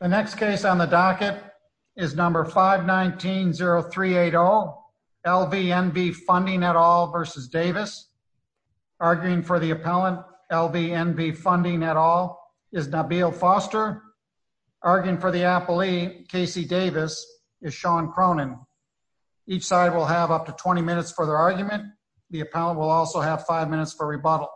The next case on the docket is number 519-0380 LVNV Funding et al. v. Davis. Arguing for the appellant, LVNV Funding et al. is Nabil Foster. Arguing for the appellee, Casey Davis, is Sean Cronin. Each side will have up to 20 minutes for their argument. The appellant will also have 5 minutes for rebuttal.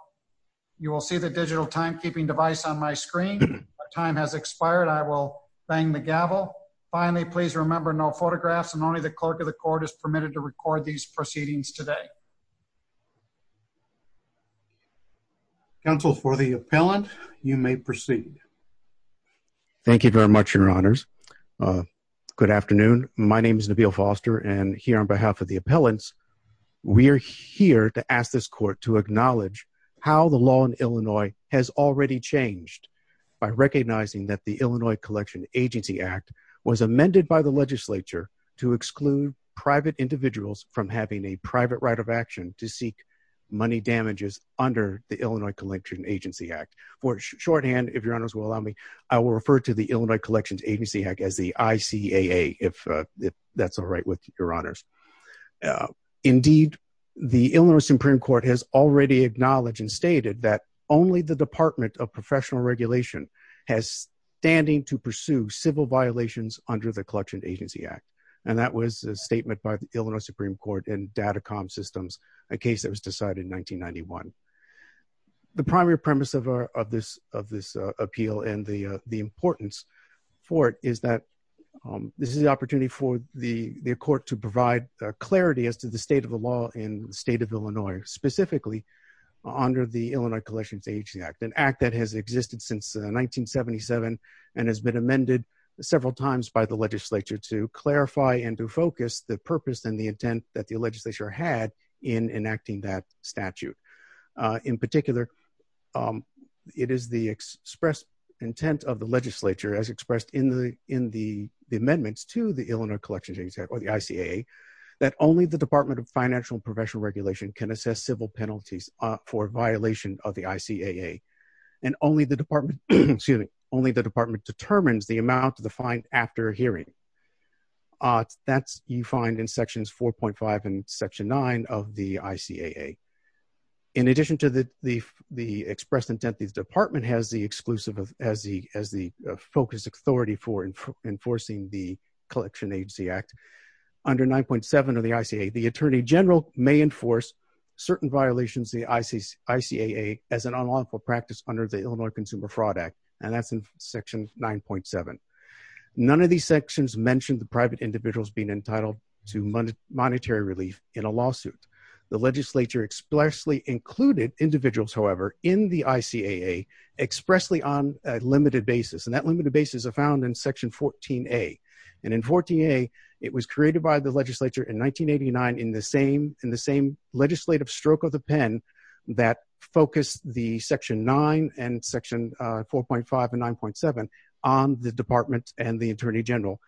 You will see the digital timekeeping device on my screen. If my time has expired, I will bang the gavel. Finally, please remember no photographs and only the clerk of the court is permitted to record these proceedings today. Counsel, for the appellant, you may proceed. Thank you very much, your honors. Good afternoon. My name is Nabil Foster. And here on behalf of the appellants, we are here to ask this court to acknowledge how the law in Illinois has already changed by recognizing that the Illinois Collection Agency Act was amended by the legislature to exclude private individuals from having a private right of action to seek money damages under the Illinois Collection Agency Act. For shorthand, if your honors will allow me, I will refer to the Illinois Collections Agency Act as the ICAA, if that's all right with your honors. Indeed, the Illinois Supreme Court has already acknowledged and stated that only the Department of Professional Regulation has standing to pursue civil violations under the Collection Agency Act. And that was a statement by the Illinois Supreme Court and Datacom Systems, a case that was decided in 1991. The primary premise of this appeal and the importance for it is that this is the opportunity for the court to provide clarity as to the state of the law in the state of Illinois, specifically under the Illinois Collections Agency Act, an act that has existed since 1977 and has been amended several times by the legislature to clarify and to focus the purpose and the intent that the legislature had in enacting that statute. In particular, it is the express intent of the legislature as expressed in the amendments to the Illinois Collections Agency Act or the ICAA that only the Department of Financial and Professional Regulation can assess civil penalties for violation of the ICAA and only the department determines the amount of the fine after hearing. That's you find in sections 4.5 and section 9 of the ICAA. In addition to the express intent, the department has the exclusive as the focus authority for enforcing the Collection Agency Act. Under 9.7 of the ICAA, the attorney general may enforce certain violations of the ICAA as an unlawful practice under the Illinois Consumer Fraud Act. And that's in section 9.7. None of these sections mentioned the private individuals being entitled to monetary relief in a lawsuit. The legislature expressly included individuals, however, in the ICAA expressly on a limited basis. And that limited basis is found in section 14A. And in 14A, it was created by the legislature in 1989 in the same legislative stroke of the pen that focused the section 9 and section 4.5 and 9.7 on the department and the attorney general.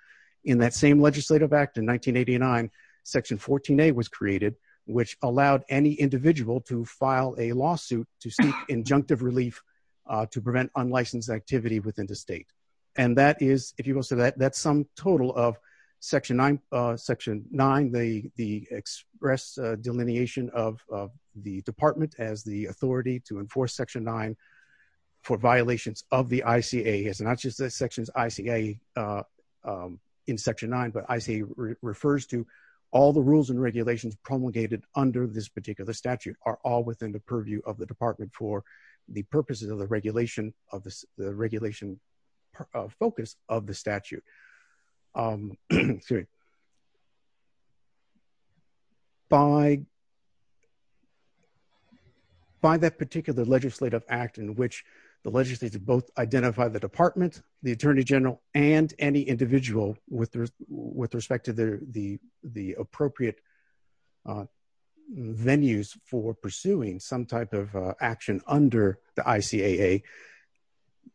In that same legislative act in 1989, section 14A was created, which allowed any individual to file a lawsuit to seek injunctive relief to prevent unlicensed activity within the state. And that is, if you will, so that's some total of section 9, the express delineation of the department as the authority to enforce section 9 for violations of the ICAA. It's not just the sections ICAA in section 9, but ICAA refers to all the rules and regulations promulgated under this particular statute are all within the purview of the department for the purposes of the regulation. The regulation focus of the statute. By that particular legislative act in which the legislature both identify the department, the attorney general, and any individual with respect to the appropriate venues for pursuing some type of action under the ICAA.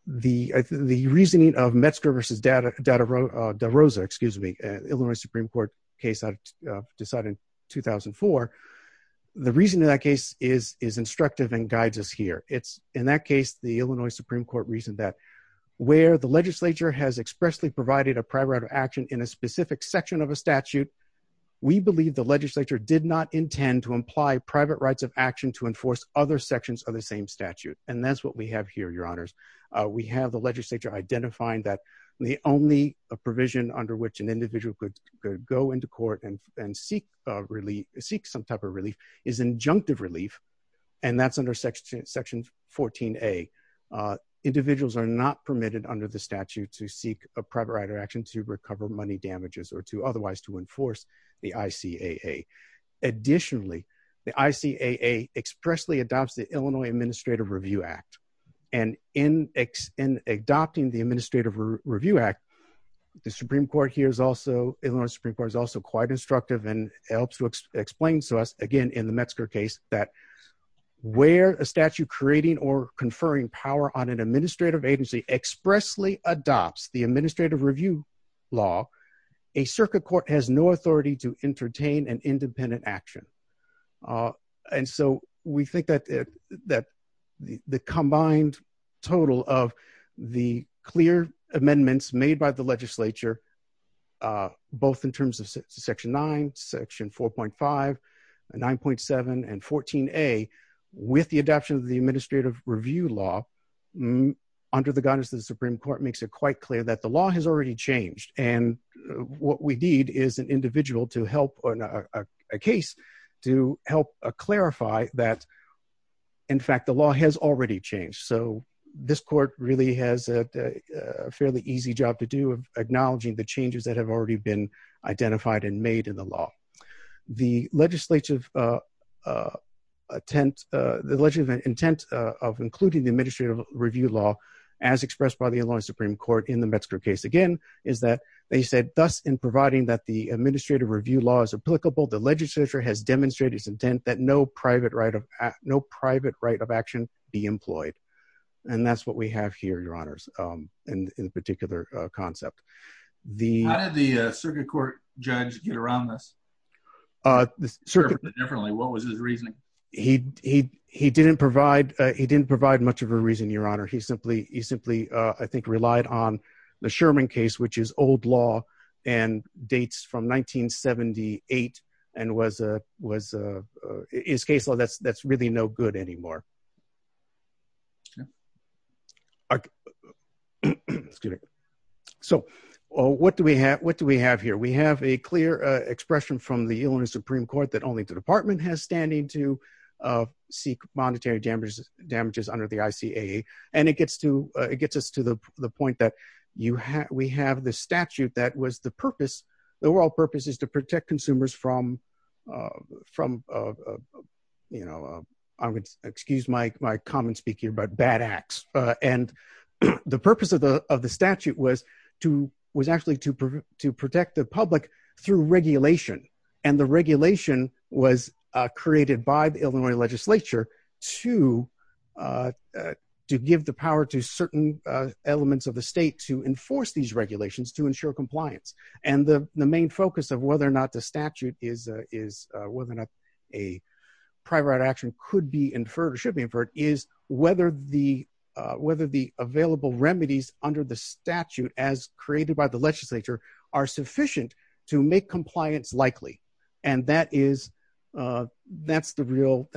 The reasoning of Metzger v. DeRosa, excuse me, Illinois Supreme Court case decided in 2004, the reasoning of that case is instructive and guides us here. In that case, the Illinois Supreme Court reasoned that where the legislature has expressly provided a private right of action in a specific section of a statute, we believe the legislature did not intend to imply private rights of action to enforce other sections of the same statute. And that's what we have here, your honors. We have the legislature identifying that the only provision under which an individual could go into court and seek some type of relief is injunctive relief. And that's under section 14A. Individuals are not permitted under the statute to seek a private right of action to recover money damages or to otherwise to enforce the ICAA. Additionally, the ICAA expressly adopts the Illinois Administrative Review Act. And in adopting the Administrative Review Act, the Illinois Supreme Court is also quite instructive and helps to explain to us, again, in the Metzger case, that where a statute creating or conferring power on an administrative agency expressly adopts the administrative review law, a circuit court has no authority to entertain an independent action. And so we think that the combined total of the clear amendments made by the legislature, both in terms of section 9, section 4.5, 9.7, and 14A, with the adoption of the Administrative Review Law, under the guidance of the Supreme Court, makes it quite clear that the law has already changed. And what we need is an individual to help a case to help clarify that, in fact, the law has already changed. So this court really has a fairly easy job to do of acknowledging the changes that have already been identified and made in the law. The legislative intent of including the Administrative Review Law, as expressed by the Illinois Supreme Court in the Metzger case, again, is that they said, thus, in providing that the Administrative Review Law is applicable, the legislature has demonstrated its intent that no private right of action be employed. And that's what we have here, Your Honors, in the particular concept. How did the circuit court judge get around this? What was his reasoning? He didn't provide much of a reason, Your Honor. He simply, I think, relied on the Sherman case, which is old law and dates from 1978, and his case law, that's really no good anymore. So, what do we have here? We have a clear expression from the Illinois Supreme Court that only the Department has standing to seek monetary damages under the ICAA. And it gets us to the point that we have the statute that was the purpose, the overall purpose is to protect consumers from, you know, excuse my common speaking about bad acts. And the purpose of the statute was actually to protect the public through regulation. And the regulation was created by the Illinois legislature to give the power to certain elements of the state to enforce these regulations to ensure compliance. And the main focus of whether or not the statute is whether or not a private right of action could be inferred or should be inferred is whether the available remedies under the statute as created by the legislature are sufficient to make compliance likely. And that's the real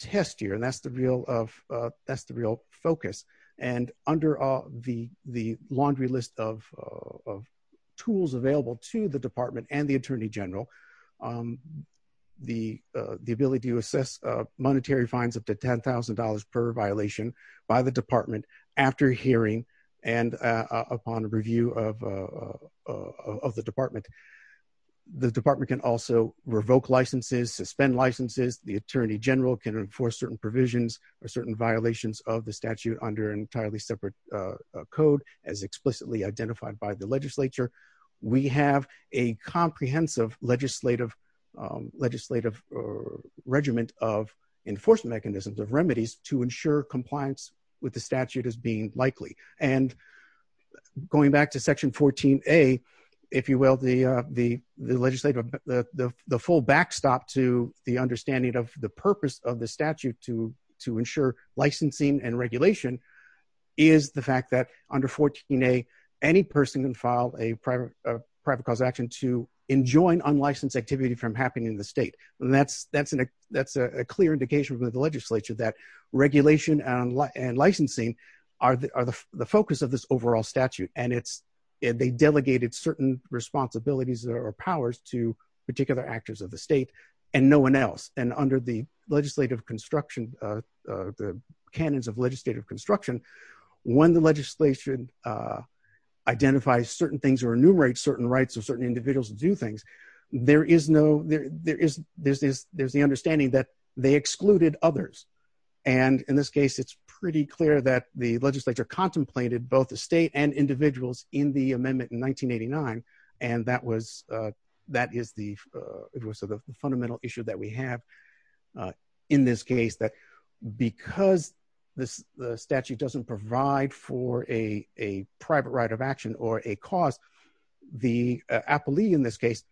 test here. And that's the real focus. And under the laundry list of tools available to the Department and the Attorney General, the ability to assess monetary fines up to $10,000 per violation by the Department after hearing and upon review of the Department. The Department can also revoke licenses, suspend licenses. The Attorney General can enforce certain provisions or certain violations of the statute under an entirely separate code as explicitly identified by the legislature. We have a comprehensive legislative regiment of enforcement mechanisms of remedies to ensure compliance with the statute as being likely. And going back to Section 14A, if you will, the legislative, the full backstop to the understanding of the purpose of the statute to ensure licensing and regulation is the fact that under 14A, any person can file a private cause action to enjoin unlicensed activity from happening in the state. And that's a clear indication with the legislature that regulation and licensing are the focus of this overall statute. And they delegated certain responsibilities or powers to particular actors of the state and no one else. And under the legislative construction, the canons of legislative construction, when the legislation identifies certain things or enumerates certain rights of certain individuals to do things, there's the understanding that they excluded others. And in this case, it's pretty clear that the legislature contemplated both the state and individuals in the amendment in 1989. And that is the fundamental issue that we have in this case that because the statute doesn't provide for a private right of action or a cause, the appellee in this case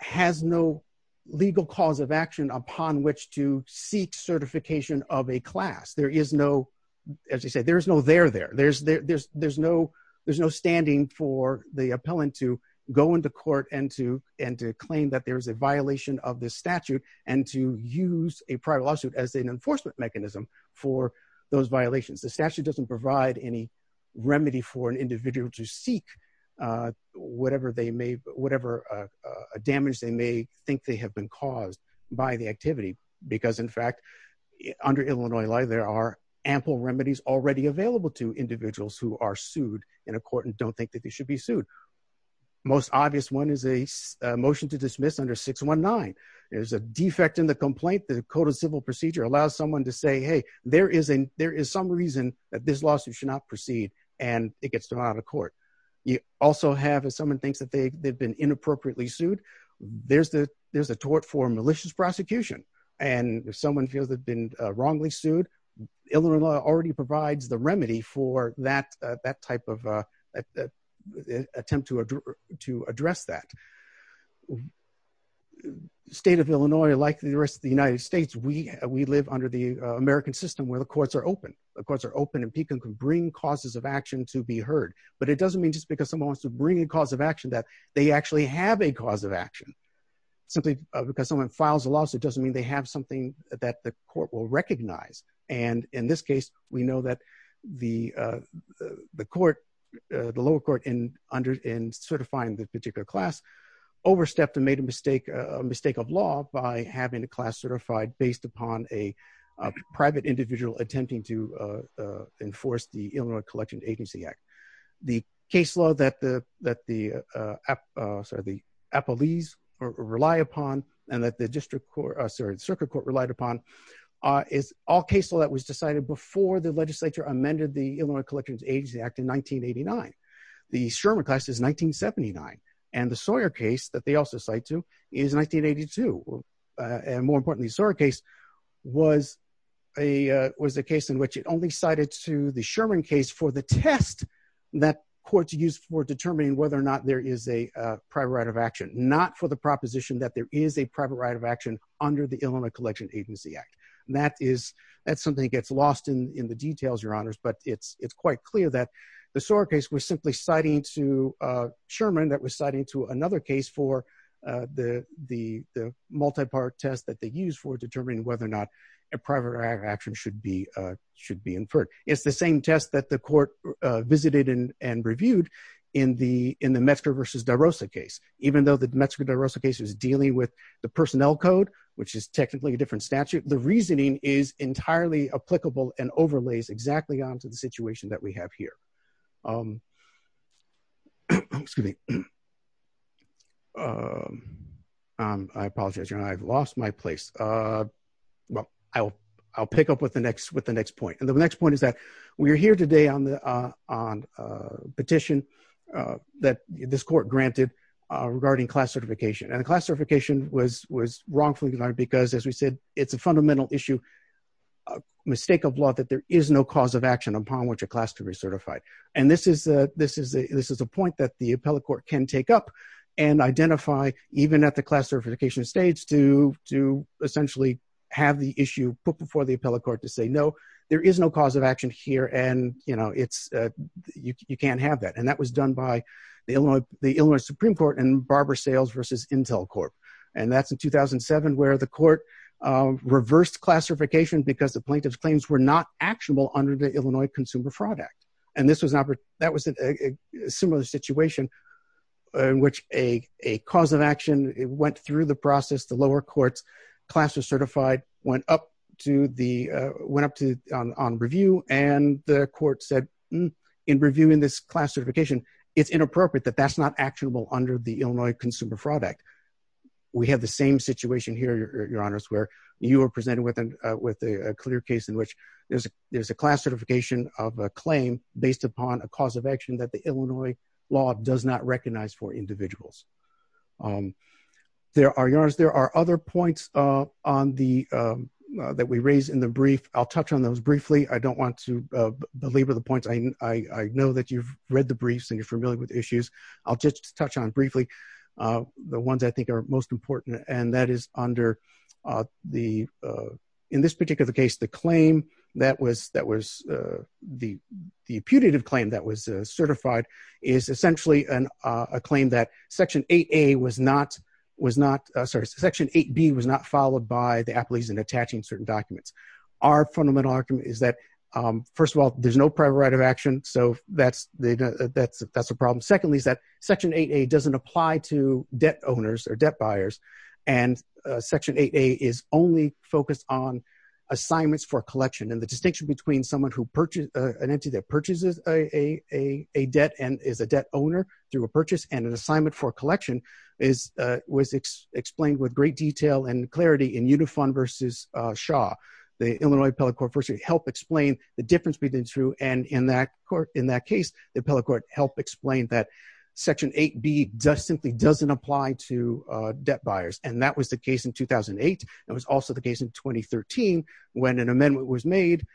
has no legal cause of action upon which to seek certification of a class. There is no, as you said, there's no there there. There's no standing for the appellant to go into court and to claim that there is a violation of the statute and to use a private lawsuit as an enforcement mechanism for those violations. The statute doesn't provide any remedy for an individual to seek whatever they may, whatever damage they may think they have been caused by the activity. Because in fact, under Illinois law, there are ample remedies already available to individuals who are sued in a court and don't think that they should be sued. Most obvious one is a motion to dismiss under 619. There's a defect in the complaint. The Code of Civil Procedure allows someone to say, hey, there is some reason that this lawsuit should not proceed, and it gets thrown out of court. You also have, if someone thinks that they've been inappropriately sued, there's a tort for malicious prosecution. And if someone feels they've been wrongly sued, Illinois law already provides the remedy for that type of attempt to address that. The state of Illinois, like the rest of the United States, we live under the American system where the courts are open. The courts are open and people can bring causes of action to be heard. But it doesn't mean just because someone wants to bring a cause of action that they actually have a cause of action. Simply because someone files a lawsuit doesn't mean they have something that the court will recognize. And in this case, we know that the lower court in certifying the particular class overstepped and made a mistake of law by having a class certified based upon a private individual attempting to enforce the Illinois Collection Agency Act. The case law that the Appellees rely upon and that the Circuit Court relied upon is all case law that was decided before the legislature amended the Illinois Collections Agency Act in 1989. The Sherman class is 1979. And the Sawyer case that they also cite to is 1982. And more importantly, the Sawyer case was a case in which it only cited to the Sherman case for the test that courts use for determining whether or not there is a private right of action, not for the proposition that there is a private right of action under the Illinois Collection Agency Act. That's something that gets lost in the details, Your Honors, but it's quite clear that the Sawyer case was simply citing to Sherman that was citing to another case for the multi-part test that they use for determining whether or not a private right of action should be inferred. It's the same test that the court visited and reviewed in the Metzger v. DeRosa case. Even though the Metzger v. DeRosa case was dealing with the personnel code, which is technically a different statute, the reasoning is entirely applicable and overlays exactly onto the situation that we have here. Excuse me. I apologize, Your Honor, I've lost my place. I'll pick up with the next point. And the next point is that we're here today on a petition that this court granted regarding class certification. And the class certification was wrongfully denied because, as we said, it's a fundamental issue, a mistake of law, that there is no cause of action upon which a class can be certified. And this is a point that the appellate court can take up and identify, even at the class certification stage, to essentially have the issue put before the appellate court to say, no, there is no cause of action here, and you can't have that. And that was done by the Illinois Supreme Court and Barber Sales v. Intel Corp. And that's in 2007, where the court reversed class certification because the plaintiff's claims were not actionable under the Illinois Consumer Fraud Act. And that was a similar situation in which a cause of action went through the process. The lower courts, class was certified, went up on review, and the court said, in reviewing this class certification, it's inappropriate that that's not actionable under the Illinois Consumer Fraud Act. We have the same situation here, Your Honors, where you are presented with a clear case in which there's a class certification of a claim based upon a cause of action that the Illinois law does not recognize for individuals. Your Honors, there are other points that we raised in the brief. I'll touch on those briefly. I don't want to belabor the points. I know that you've read the briefs and you're familiar with the issues. I'll just touch on briefly the ones I think are most important. And that is under the, in this particular case, the claim that was, the putative claim that was certified is essentially a claim that Section 8A was not, was not, sorry, Section 8B was not followed by the appellees in attaching certain documents. Our fundamental argument is that, first of all, there's no prior right of action. So that's the, that's a problem. Secondly, is that Section 8A doesn't apply to debt owners or debt buyers. And Section 8A is only focused on assignments for collection. And the distinction between someone who purchased, an entity that purchases a debt and is a debt owner through a purchase and an assignment for collection is, was explained with great detail and clarity in Unifund versus Shaw. The Illinois Appellate Court first helped explain the difference between the two. And in that court, in that case, the appellate court helped explain that Section 8B just simply doesn't apply to debt buyers. And that was the case in 2008. It was also the case in 2013, when an amendment was made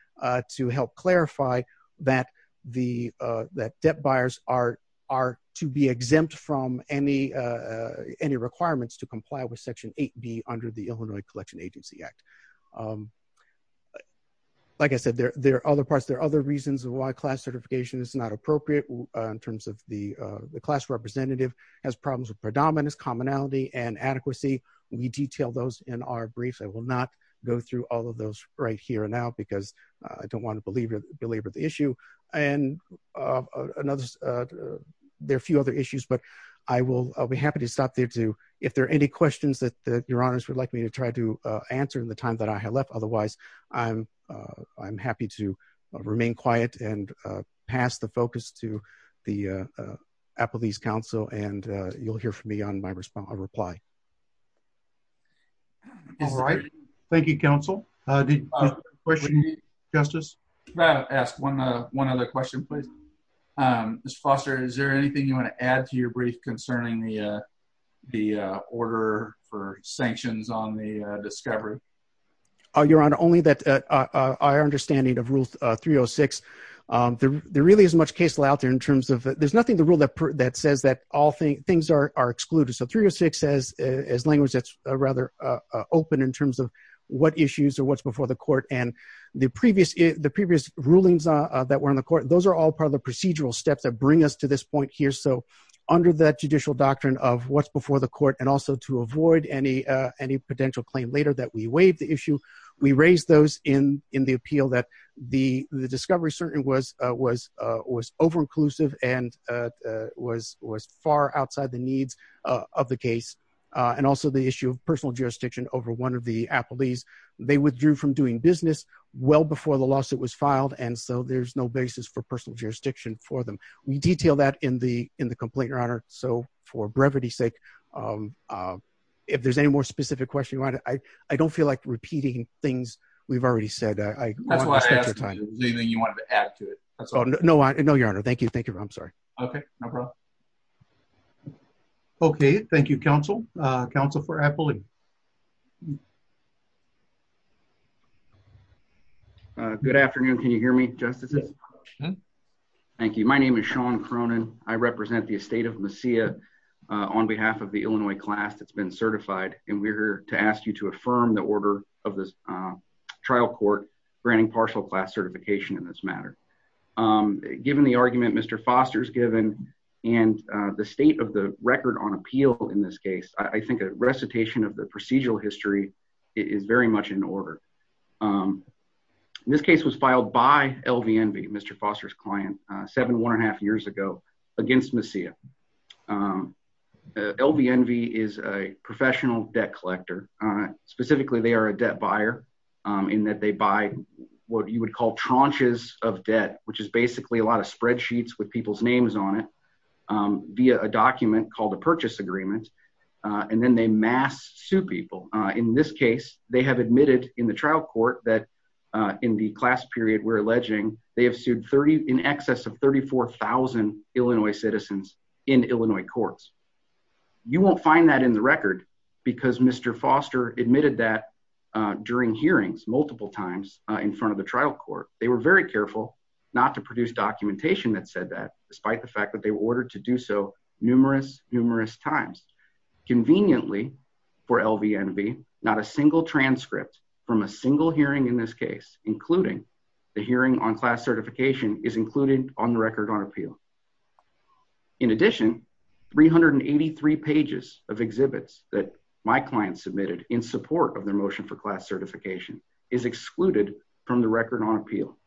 to help clarify that the, that debt buyers are, are to be exempt from any, any requirements to comply with Section 8B under the Illinois Collection Agency Act. Like I said, there, there are other parts, there are other reasons why class certification is not appropriate in terms of the, the class representative has problems with predominance, commonality, and adequacy. We detail those in our briefs. I will not go through all of those right here now because I don't want to belabor the issue. And there are a few other issues, but I will, I'll be happy to stop there too. If there are any questions that, that your honors would like me to try to answer in the time that I have left, otherwise, I'm, I'm happy to remain quiet and pass the focus to the Appellate Council and you'll hear from me on my response, my reply. All right. Thank you, Counsel. Questions, Justice? Can I ask one, one other question, please? Mr. Foster, is there anything you want to add to your brief concerning the, the order for sanctions on the discovery? Your Honor, only that our understanding of Rule 306, there, there really isn't much case law out there in terms of, there's nothing in the rule that says that all things, things are excluded. So 306 says, as language that's rather open in terms of what issues or what's before the court and the previous, the previous rulings that were in the court, those are all part of the procedural steps that bring us to this point here. So under that judicial doctrine of what's before the court and also to avoid any, any potential claim later that we waive the issue, we raised those in, in the appeal that the, the discovery certainly was, was, was over-inclusive and was, was far outside the needs of the case. And also the issue of personal jurisdiction over one of the appellees, they withdrew from doing business well before the lawsuit was filed. And so there's no basis for personal jurisdiction for them. We detail that in the, in the complaint, Your Honor. So for brevity sake, if there's any more specific question you want to, I, I don't feel like repeating things we've already said. That's why I asked if there was anything you wanted to add to it. No, Your Honor. Thank you. Thank you. I'm sorry. Okay. No problem. Okay. Thank you, counsel. Counsel for appellee. Good afternoon. Can you hear me? Justices? Thank you. My name is Sean Cronin. I represent the estate of Masia on behalf of the Illinois class that's been certified. And we're here to ask you to affirm the order of this trial court granting partial class certification in this matter. Given the argument Mr. Foster's given and the state of the record on appeal in this case, I think a recitation of the procedural history is very much in order. This case was filed by LVNV, Mr. Foster's client, seven, one and a half years ago against Masia. LVNV is a professional debt collector. Specifically, they are a debt buyer in that they buy what you would call tranches of debt, which is basically a lot of spreadsheets with people's names on it via a document called a purchase agreement. And then they mass sue people. In this case, they have admitted in the trial court that in the class period, we're alleging they have sued 30 in excess of 34,000 Illinois citizens in Illinois courts. You won't find that in the record because Mr. Foster admitted that during hearings multiple times in front of the trial court. They were very careful not to produce documentation that said that, despite the fact that they were ordered to do so numerous, numerous times. Conveniently for LVNV, not a single transcript from a single hearing in this case, including the hearing on class certification, is included on the record on appeal. In addition, 383 pages of exhibits that my client submitted in support of their motion for class certification is excluded from the record on appeal.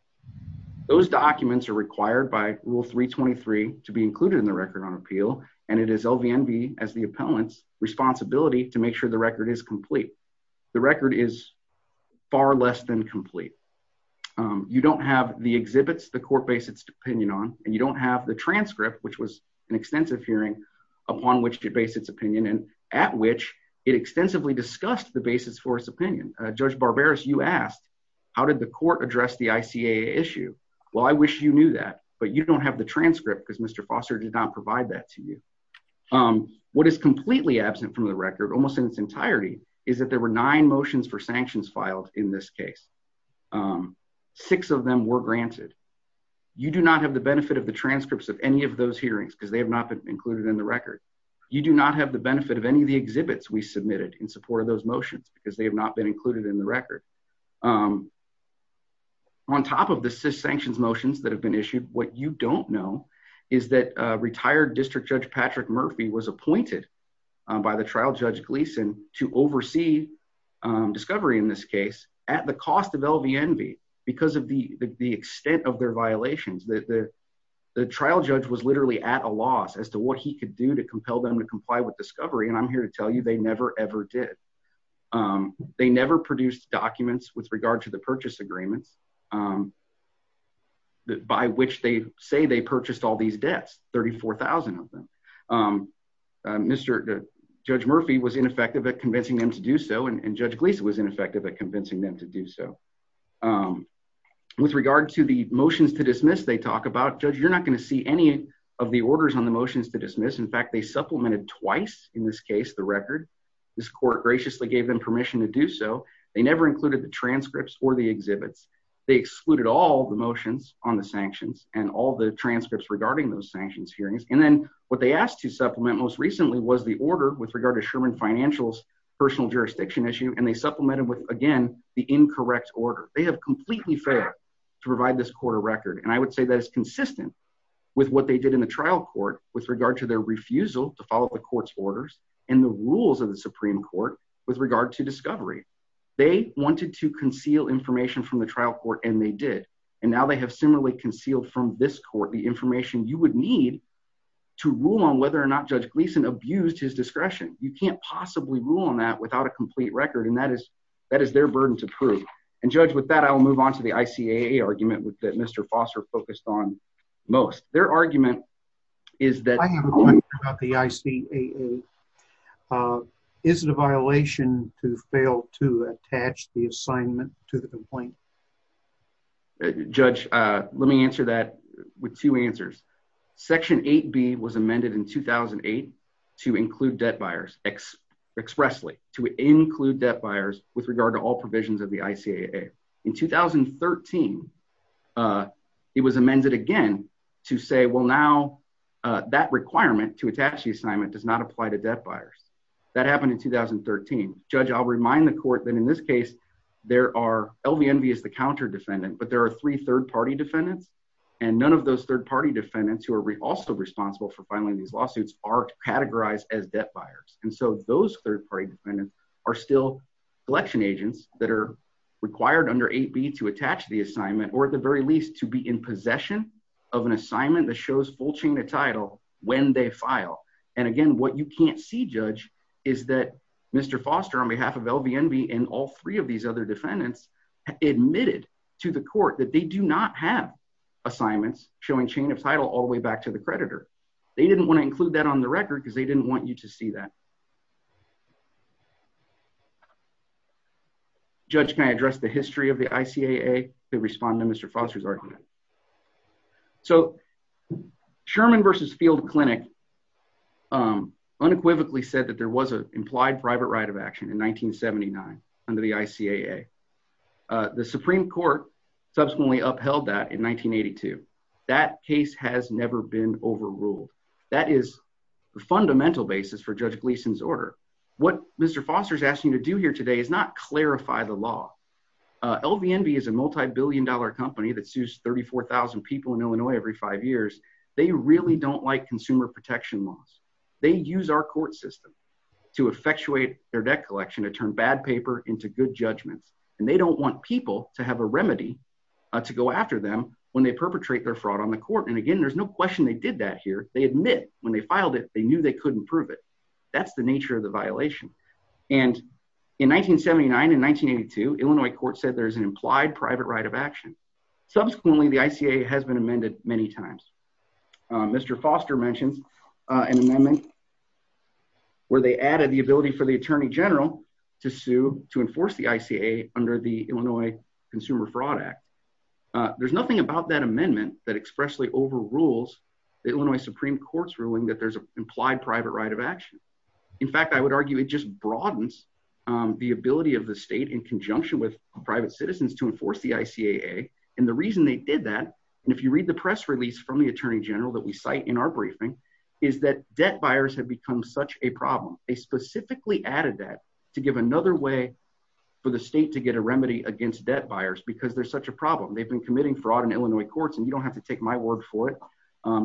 Those documents are required by Rule 323 to be included in the record on appeal and it is LVNV as the appellant's responsibility to make sure the record is complete. The record is far less than complete. You don't have the exhibits the court based its opinion on and you don't have the transcript, which was an extensive hearing upon which it based its opinion and at which it extensively discussed the basis for its opinion. Judge Barberis, you asked, how did the court address the ICAA issue? Well, I wish you knew that, but you don't have the transcript because Mr. Foster did not provide that to you. What is completely absent from the record, almost in its entirety, is that there were nine motions for sanctions filed in this case. Six of them were granted. You do not have the benefit of the transcripts of any of those hearings because they have not been included in the record. You do not have the benefit of any of the exhibits we submitted in support of those motions because they have not been included in the record. On top of the cis sanctions motions that have been issued, what you don't know is that retired District Judge Patrick Murphy was appointed by the trial judge Gleason to oversee discovery in this case at the cost of LVNV because of the extent of their violations. The trial judge was literally at a loss as to what he could do to compel them to comply with discovery and I'm here to tell you they never ever did. They never produced documents with regard to the purchase agreements by which they say they purchased all these debts, 34,000 of them. Judge Murphy was ineffective at convincing them to do so and Judge Gleason was ineffective at convincing them to do so. With regard to the motions to dismiss, they talk about, Judge, you're not going to see any of the orders on the motions to dismiss. In fact, they supplemented twice in this case the record. This court graciously gave them permission to do so. They never included the transcripts or the exhibits. They excluded all the motions on the sanctions and all the transcripts regarding those sanctions hearings. And then what they asked to supplement most recently was the order with regard to Sherman Financial's personal jurisdiction issue and they supplemented with, again, the incorrect order. They have completely failed to provide this court a record and I would say that is consistent with what they did in the trial court with regard to their refusal to follow the court's orders and the rules of the Supreme Court with regard to discovery. They wanted to conceal information from the trial court and they did. And now they have similarly concealed from this court the information you would need to rule on whether or not Judge Gleason abused his discretion. You can't possibly rule on that without a complete record and that is their burden to prove. And Judge, with that I will move on to the ICAA argument that Mr. Foster focused on most. Their argument is that I have a question about the ICAA. Is it a violation to fail to attach the assignment to the complaint? Judge, let me answer that with two answers. Section 8B was amended in 2008 to include debt buyers expressly, to include debt buyers with regard to all provisions of the ICAA. In 2013, it was amended again to say, well, now that requirement to attach the assignment does not apply to debt buyers. That happened in 2013. Judge, I'll remind the court that in this case, there are, LVNV is the counter defendant, but there are three third-party defendants and none of those third-party defendants who are also responsible for filing these lawsuits are categorized as debt buyers. And so those third-party defendants are still collection agents that are required under 8B to attach the assignment or at the very least to be in possession of an assignment that shows full chain of title when they file. And again, what you can't see, Judge, is that Mr. Foster on behalf of LVNV and all three of these other defendants admitted to the court that they do not have assignments showing chain of title all the way back to the creditor. They didn't want to include that on the record because they didn't want you to see that. Judge, can I address the history of the ICAA to respond to Mr. Foster's argument? So Sherman v. Field Clinic unequivocally said that there was an implied private right of action in 1979 under the ICAA. The Supreme Court subsequently upheld that in 1982. That case has never been overruled. That is the fundamental basis for Judge Gleason's order. What Mr. Foster is asking you to do here today is not clarify the law. LVNV is a multibillion-dollar company that sues 34,000 people in Illinois every five years. They really don't like consumer protection laws. They use our court system to effectuate their debt collection to turn bad paper into good judgments. And they don't want people to have a remedy to go after them when they perpetrate their fraud on the court. And again, there's no question they did that here. They admit when they filed it, they knew they couldn't prove it. That's the nature of the violation. And in 1979 and 1982, Illinois courts said there's an implied private right of action. Subsequently, the ICAA has been amended many times. Mr. Foster mentions an amendment where they added the ability for the Attorney General to sue to enforce the ICAA under the Illinois Consumer Fraud Act. There's nothing about that amendment that expressly overrules the Illinois Supreme Court's ruling that there's an implied private right of action. In fact, I would argue it just broadens the ability of the state in conjunction with private citizens to enforce the ICAA. And the reason they did that, and if you read the press release from the Attorney General that we cite in our briefing, is that debt buyers have become such a problem. They specifically added that to give another way for the state to get a remedy against debt buyers because there's such a problem. They've been committing fraud in Illinois courts, and you don't have to take my word for it.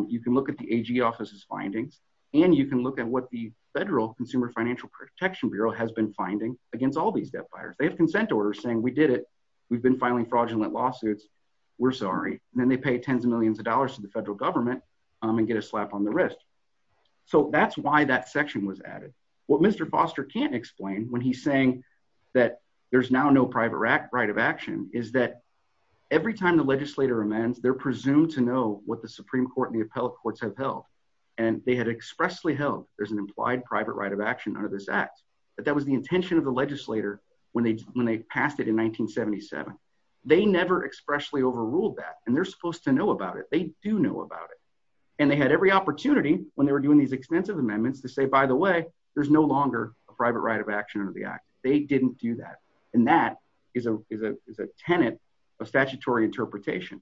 You can look at the AG office's findings, and you can look at what the Federal Consumer Financial Protection Bureau has been finding against all these debt buyers. They have consent orders saying, we did it. We've been filing fraudulent lawsuits. We're sorry. And then they pay tens of millions of dollars to the federal government and get a slap on the wrist. So that's why that section was added. What Mr. Foster can't explain when he's saying that there's now no private right of action is that every time the legislator amends, they're presumed to know what the Supreme Court and the appellate courts have held. And they had expressly held there's an implied private right of action under this act. But that was the intention of the legislator when they passed it in 1977. They never expressly overruled that, and they're supposed to know about it. They do know about it. And they had every opportunity when they were doing these extensive amendments to say, by the way, there's no longer a private right of action under the act. They didn't do that. And that is a tenet of statutory interpretation.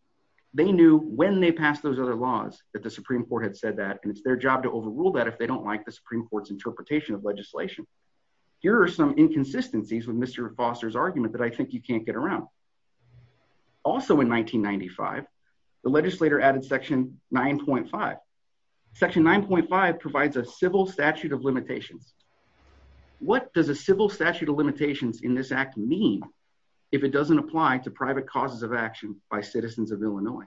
They knew when they passed those other laws that the Supreme Court had said that, and it's their job to overrule that if they don't like the Supreme Court's interpretation of legislation. Here are some inconsistencies with Mr. Foster's argument that I think you can't get around. Also in 1995, the legislator added Section 9.5. Section 9.5 provides a civil statute of limitations. What does a civil statute of limitations in this act mean if it doesn't apply to private causes of action by citizens of Illinois?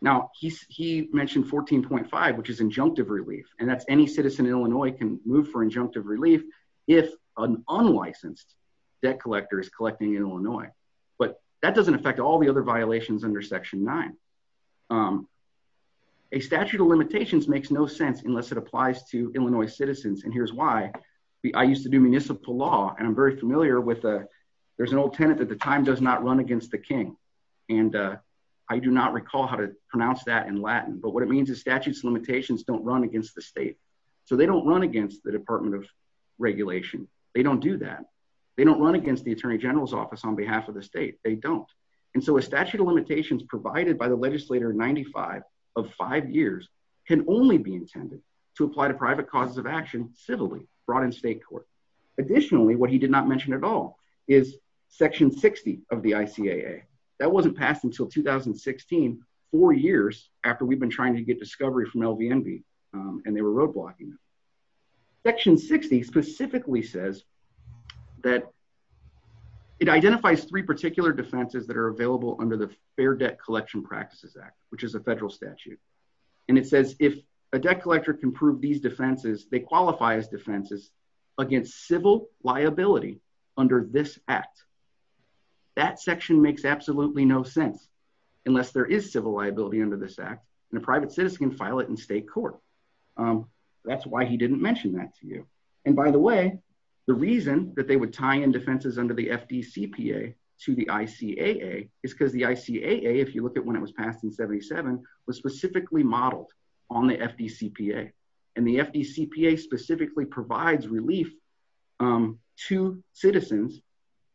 Now, he mentioned 14.5, which is injunctive relief, and that's any citizen in Illinois can move for injunctive relief if an unlicensed debt collector is collecting in Illinois. But that doesn't affect all the other violations under Section 9. A statute of limitations makes no sense unless it applies to Illinois citizens, and here's why. I used to do municipal law, and I'm very familiar with, there's an old tenet that the time does not run against the king. And I do not recall how to pronounce that in Latin, but what it means is statutes of limitations don't run against the state. So they don't run against the Department of Regulation. They don't do that. They don't run against the Attorney General's Office on behalf of the state. They don't. And so a statute of limitations provided by the legislator in 95 of five years can only be intended to apply to private causes of action civilly brought in state court. Additionally, what he did not mention at all is Section 60 of the ICAA. That wasn't passed until 2016, four years after we've been trying to get discovery from LVNB, and they were roadblocking it. Section 60 specifically says that it identifies three particular defenses that are available under the Fair Debt Collection Practices Act, which is a federal statute. And it says if a debt collector can prove these defenses, they qualify as defenses against civil liability under this act. That section makes absolutely no sense unless there is civil liability under this act, and a private citizen can file it in state court. That's why he didn't mention that to you. And by the way, the reason that they would tie in defenses under the FDCPA to the ICAA is because the ICAA, if you look at when it was passed in 77, was specifically modeled on the FDCPA. And the FDCPA specifically provides relief to citizens,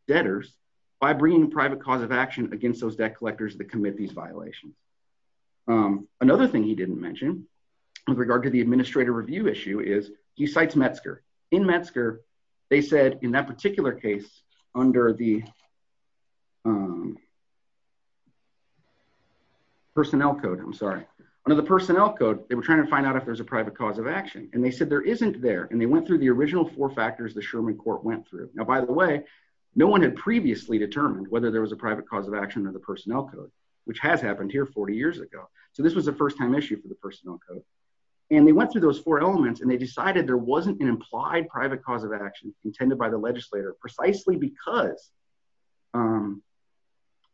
debtors, by bringing private cause of action against those debt collectors that commit these violations. Another thing he didn't mention with regard to the administrator review issue is he cites Metzger. In Metzger, they said in that particular case, under the Personnel Code, I'm sorry. Under the Personnel Code, they were trying to find out if there's a private cause of action, and they said there isn't there, and they went through the original four factors the Sherman Court went through. Now, by the way, no one had previously determined whether there was a private cause of action under the Personnel Code, which has happened here 40 years ago. So this was a first-time issue for the Personnel Code. And they went through those four elements, and they decided there wasn't an implied private cause of action intended by the legislator precisely because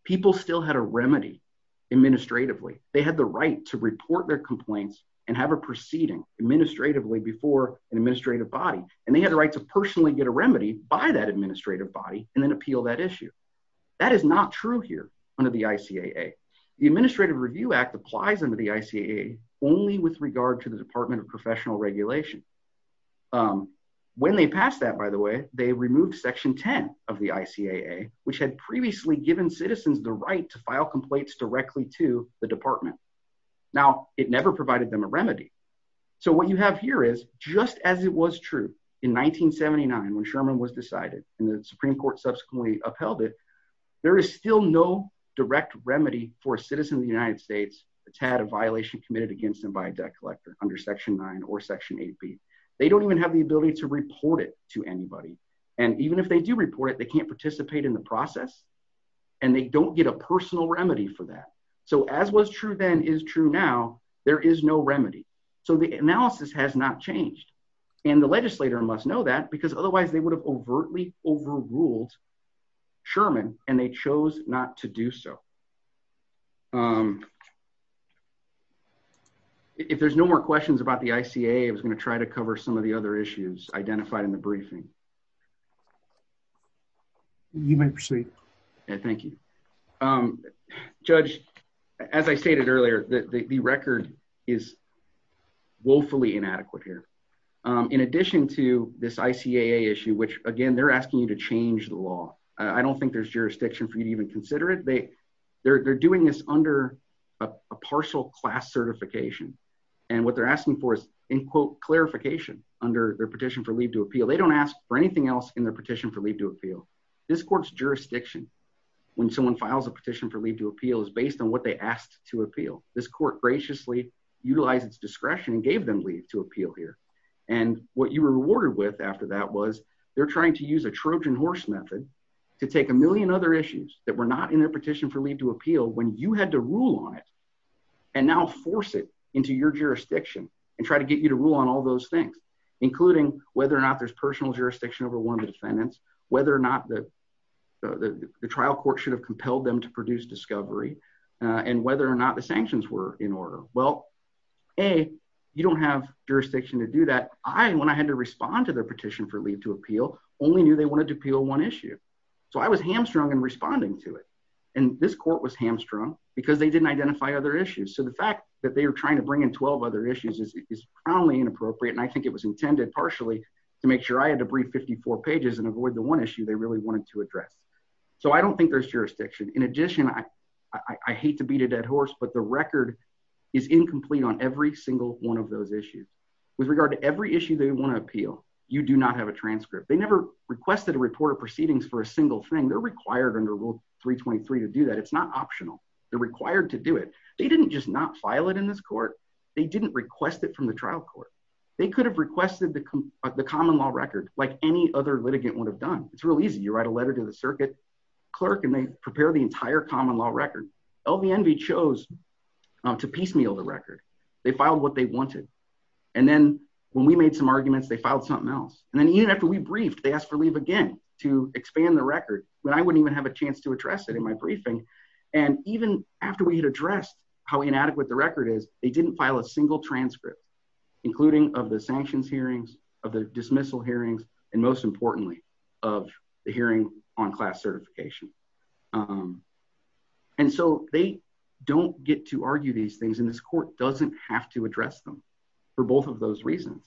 people still had a remedy administratively. They had the right to report their complaints and have a proceeding administratively before an administrative body. And they had the right to personally get a remedy by that administrative body and then appeal that issue. That is not true here under the ICAA. The Administrative Review Act applies under the ICAA only with regard to the Department of Professional Regulation. When they passed that, by the way, they removed Section 10 of the ICAA, which had previously given citizens the right to file complaints directly to the department. Now, it never provided them a remedy. So what you have here is, just as it was true in 1979 when Sherman was decided and the Supreme Court subsequently upheld it, there is still no direct remedy for a citizen of the United States that's had a violation committed against them by a debt collector under Section 9 or Section 8b. They don't even have the ability to report it to anybody. And even if they do report it, they can't participate in the process, and they don't get a personal remedy for that. So as was true then is true now, there is no remedy. So the analysis has not changed. And the legislator must know that because otherwise they would have overtly overruled Sherman, and they chose not to do so. If there's no more questions about the ICAA, I was going to try to cover some of the other issues identified in the briefing. You may proceed. Thank you. Judge, as I stated earlier, the record is woefully inadequate here. In addition to this ICAA issue, which again, they're asking you to change the law. I don't think there's jurisdiction for you to even consider it. They're doing this under a partial class certification. And what they're asking for is, in quote, clarification under their petition for leave to appeal. They don't ask for anything else in their petition for leave to appeal. This court's jurisdiction when someone files a petition for leave to appeal is based on what they asked to appeal. This court graciously utilized its discretion and gave them leave to appeal here. And what you were rewarded with after that was they're trying to use a Trojan horse method to take a million other issues that were not in their petition for leave to appeal when you had to rule on it. And now force it into your jurisdiction and try to get you to rule on all those things, including whether or not there's personal jurisdiction over one of the defendants, whether or not the trial court should have compelled them to produce discovery. And whether or not the sanctions were in order. Well, A, you don't have jurisdiction to do that. I, when I had to respond to their petition for leave to appeal, only knew they wanted to appeal one issue. So I was hamstrung and responding to it. And this court was hamstrung because they didn't identify other issues. So the fact that they are trying to bring in 12 other issues is probably inappropriate. And I think it was intended partially To make sure I had to breathe 54 pages and avoid the one issue they really wanted to address. So I don't think there's jurisdiction. In addition, I They're required under Rule 323 to do that. It's not optional. They're required to do it. They didn't just not file it in this court. They didn't request it from the trial court. They could have requested the common law record like any other litigant would have done. It's real easy. You write a letter to the circuit clerk and they prepare the entire common law record LVNV chose To piecemeal the record. They filed what they wanted. And then when we made some arguments, they filed something else. And then even after we briefed they asked for leave again to expand the record when I wouldn't even have a chance to address it in my briefing. And even after we had addressed how inadequate the record is they didn't file a single transcript, including of the sanctions hearings of the dismissal hearings and most importantly of the hearing on class certification. And so they don't get to argue these things in this court doesn't have to address them for both of those reasons.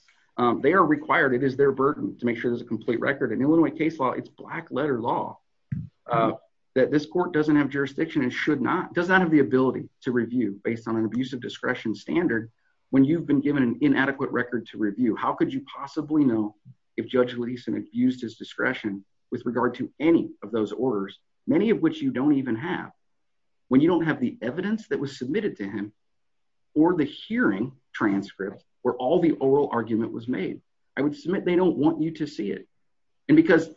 They are required. It is their burden to make sure there's a complete record and Illinois case law. It's black letter law. That this court doesn't have jurisdiction and should not does not have the ability to review based on an abuse of discretion standard When you've been given an inadequate record to review. How could you possibly know if Judge Lisa and abused his discretion with regard to any of those orders, many of which you don't even have When you don't have the evidence that was submitted to him or the hearing transcript where all the oral argument was made, I would submit. They don't want you to see it and because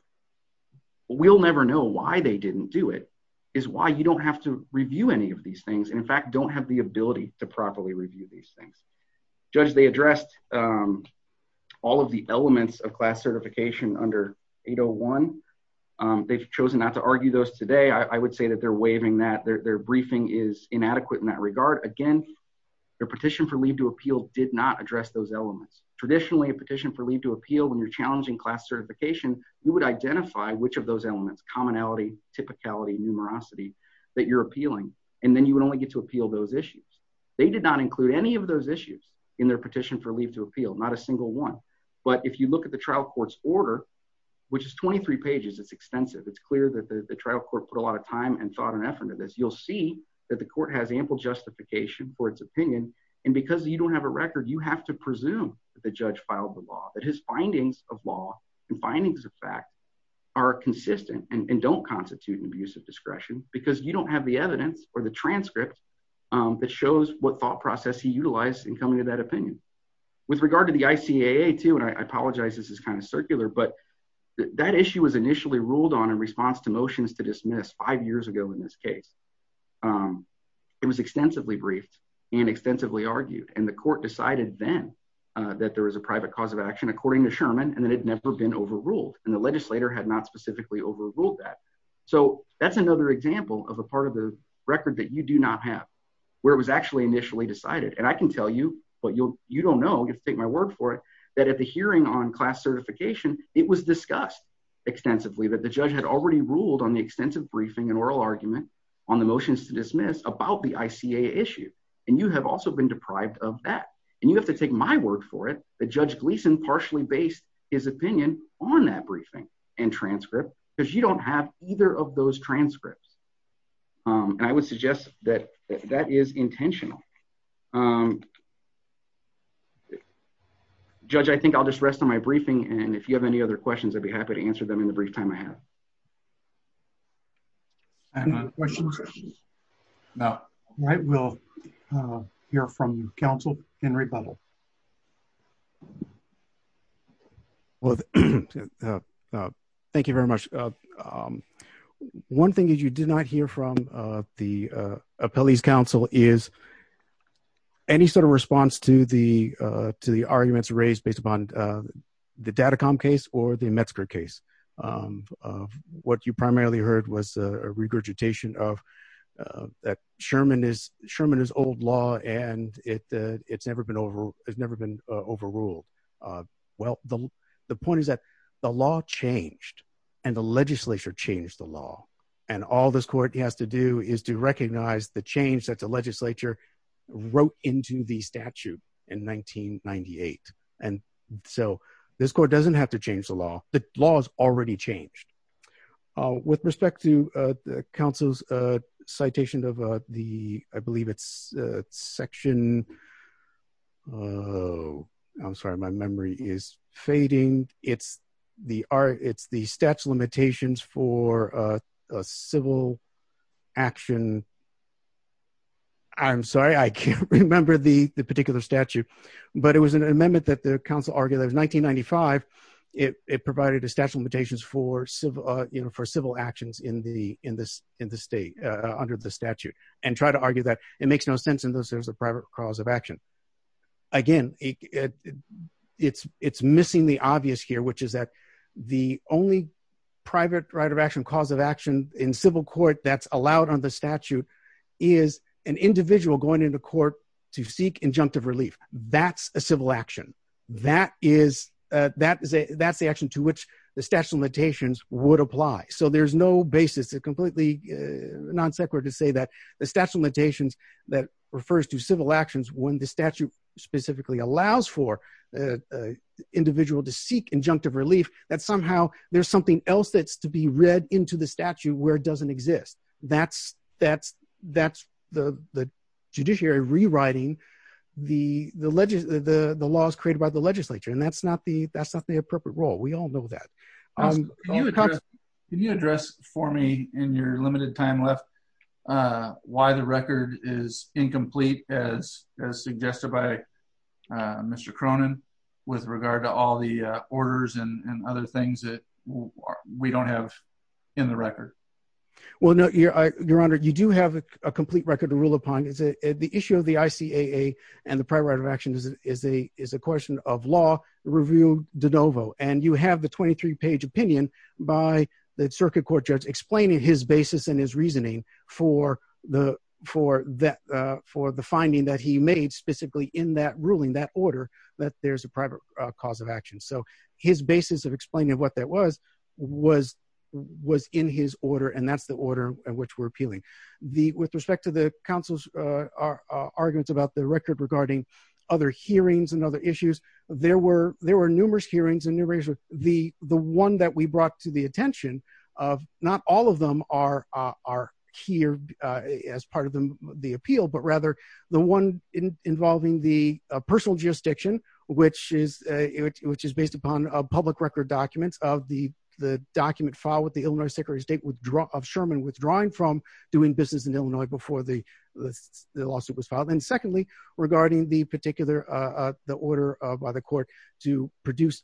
We'll never know why they didn't do it is why you don't have to review any of these things. And in fact, don't have the ability to properly review these things, Judge, they addressed. All of the elements of class certification under 801 they've chosen not to argue those today, I would say that they're waving that their briefing is inadequate in that regard. Again, Their petition for leave to appeal did not address those elements traditionally a petition for leave to appeal when you're challenging class certification, you would identify which of those elements commonality typicality numerosity. That you're appealing and then you would only get to appeal those issues. They did not include any of those issues in their petition for leave to appeal, not a single one. But if you look at the trial courts order, which is 23 pages. It's extensive. It's clear that the trial court put a lot of time and thought and effort into this, you'll see that the court has ample justification for its opinion. And because you don't have a record, you have to presume that the judge filed the law that his findings of law and findings of fact. Are consistent and don't constitute an abuse of discretion because you don't have the evidence or the transcript. That shows what thought process he utilized and coming to that opinion with regard to the ICAA to and I apologize. This is kind of circular, but that issue was initially ruled on in response to motions to dismiss five years ago in this case. It was extensively briefed and extensively argued and the court decided then that there was a private cause of action, according to Sherman, and then it never been overruled and the legislator had not specifically overruled that So that's another example of a part of the record that you do not have where it was actually initially decided and I can tell you, but you'll, you don't know if take my word for it. That at the hearing on class certification. It was discussed extensively that the judge had already ruled on the extensive briefing and oral argument. On the motions to dismiss about the ICA issue and you have also been deprived of that and you have to take my word for it. The judge Gleason partially based his opinion on that briefing and transcript because you don't have either of those transcripts and I would suggest that that is intentional. Judge, I think I'll just rest on my briefing and if you have any other questions, I'd be happy to answer them in the brief time I have And Now, right. We'll Hear from counsel and rebuttal. Well, Thank you very much. One thing that you did not hear from the appellees council is Any sort of response to the to the arguments raised based upon the data calm case or the Metzger case. What you primarily heard was a regurgitation of that Sherman is Sherman is old law and it it's never been over. It's never been overruled Well, the, the point is that the law changed and the legislature changed the law and all this court has to do is to recognize the change that the legislature wrote into the statute in 1998 and so this court doesn't have to change the law, the laws already changed. With respect to the council's citation of the I believe it's section. Oh, I'm sorry. My memory is fading. It's the art. It's the stats limitations for a civil action. I'm sorry, I can't remember the particular statute, but it was an amendment that the Council argue that was 1995 It provided a special mutations for civil, you know, for civil actions in the in this in the state under the statute and try to argue that it makes no sense in those there's a private cause of action. Again, It's, it's missing the obvious here, which is that the only private right of action cause of action in civil court that's allowed on the statute. Is an individual going into court to seek injunctive relief. That's a civil action that is that is a that's the action to which the special mutations would apply. So there's no basis to completely non sequitur to say that the statute limitations that refers to civil actions when the statute specifically allows for Individual to seek injunctive relief that somehow there's something else that's to be read into the statute where it doesn't exist. That's, that's, that's the the judiciary rewriting the, the, the, the, the laws created by the legislature and that's not the that's not the appropriate role. We all know that Can you address for me in your limited time left Why the record is incomplete as as suggested by Mr. Cronin with regard to all the orders and other things that we don't have in the record. Well, no, your, your honor, you do have a complete record to rule upon is the issue of the ICAA and the private right of action is a is a question of law review de novo and you have the 23 page opinion by the circuit court judge explaining his basis and his reasoning for the for that For the finding that he made specifically in that ruling that order that there's a private cause of action. So his basis of explaining what that was, was, was in his order. And that's the order in which we're appealing the with respect to the council's About the record regarding other hearings and other issues. There were there were numerous hearings and new razor. The, the one that we brought to the attention of not all of them are are here. As part of the appeal, but rather the one in involving the personal jurisdiction, which is Which is based upon a public record documents of the the document file with the Illinois Secretary of State withdraw of Sherman withdrawing from doing business in Illinois before the Lawsuit was filed. And secondly, regarding the particular the order by the court to produce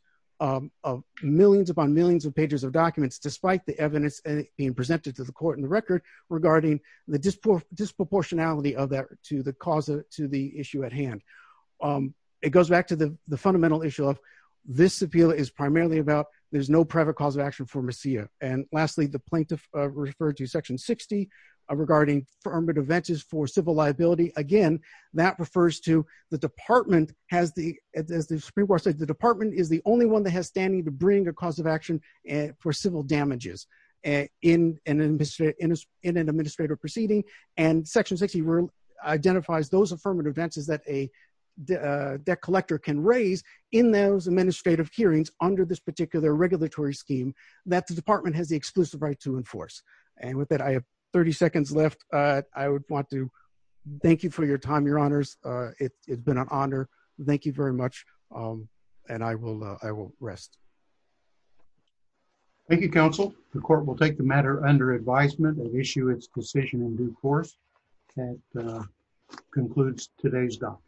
Millions upon millions of pages of documents, despite the evidence and being presented to the court in the record regarding the disproportionality of that to the cause of to the issue at hand. It goes back to the, the fundamental issue of this appeal is primarily about there's no private cause of action for Messiah. And lastly, the plaintiff referred to section 60 Regarding affirmative ventures for civil liability. Again, that refers to the department has the as the Supreme Court said the department is the only one that has standing to bring a cause of action. For civil damages and in an industry industry in an administrative proceeding and section 60 room identifies those affirmative advances that a Debt collector can raise in those administrative hearings under this particular regulatory scheme that the department has the exclusive right to enforce and with that I have 30 seconds left. I would want to thank you for your time, your honors. It's been an honor. Thank you very much, and I will, I will rest. Thank you, counsel, the court will take the matter under advisement and issue its decision in due course concludes today's doc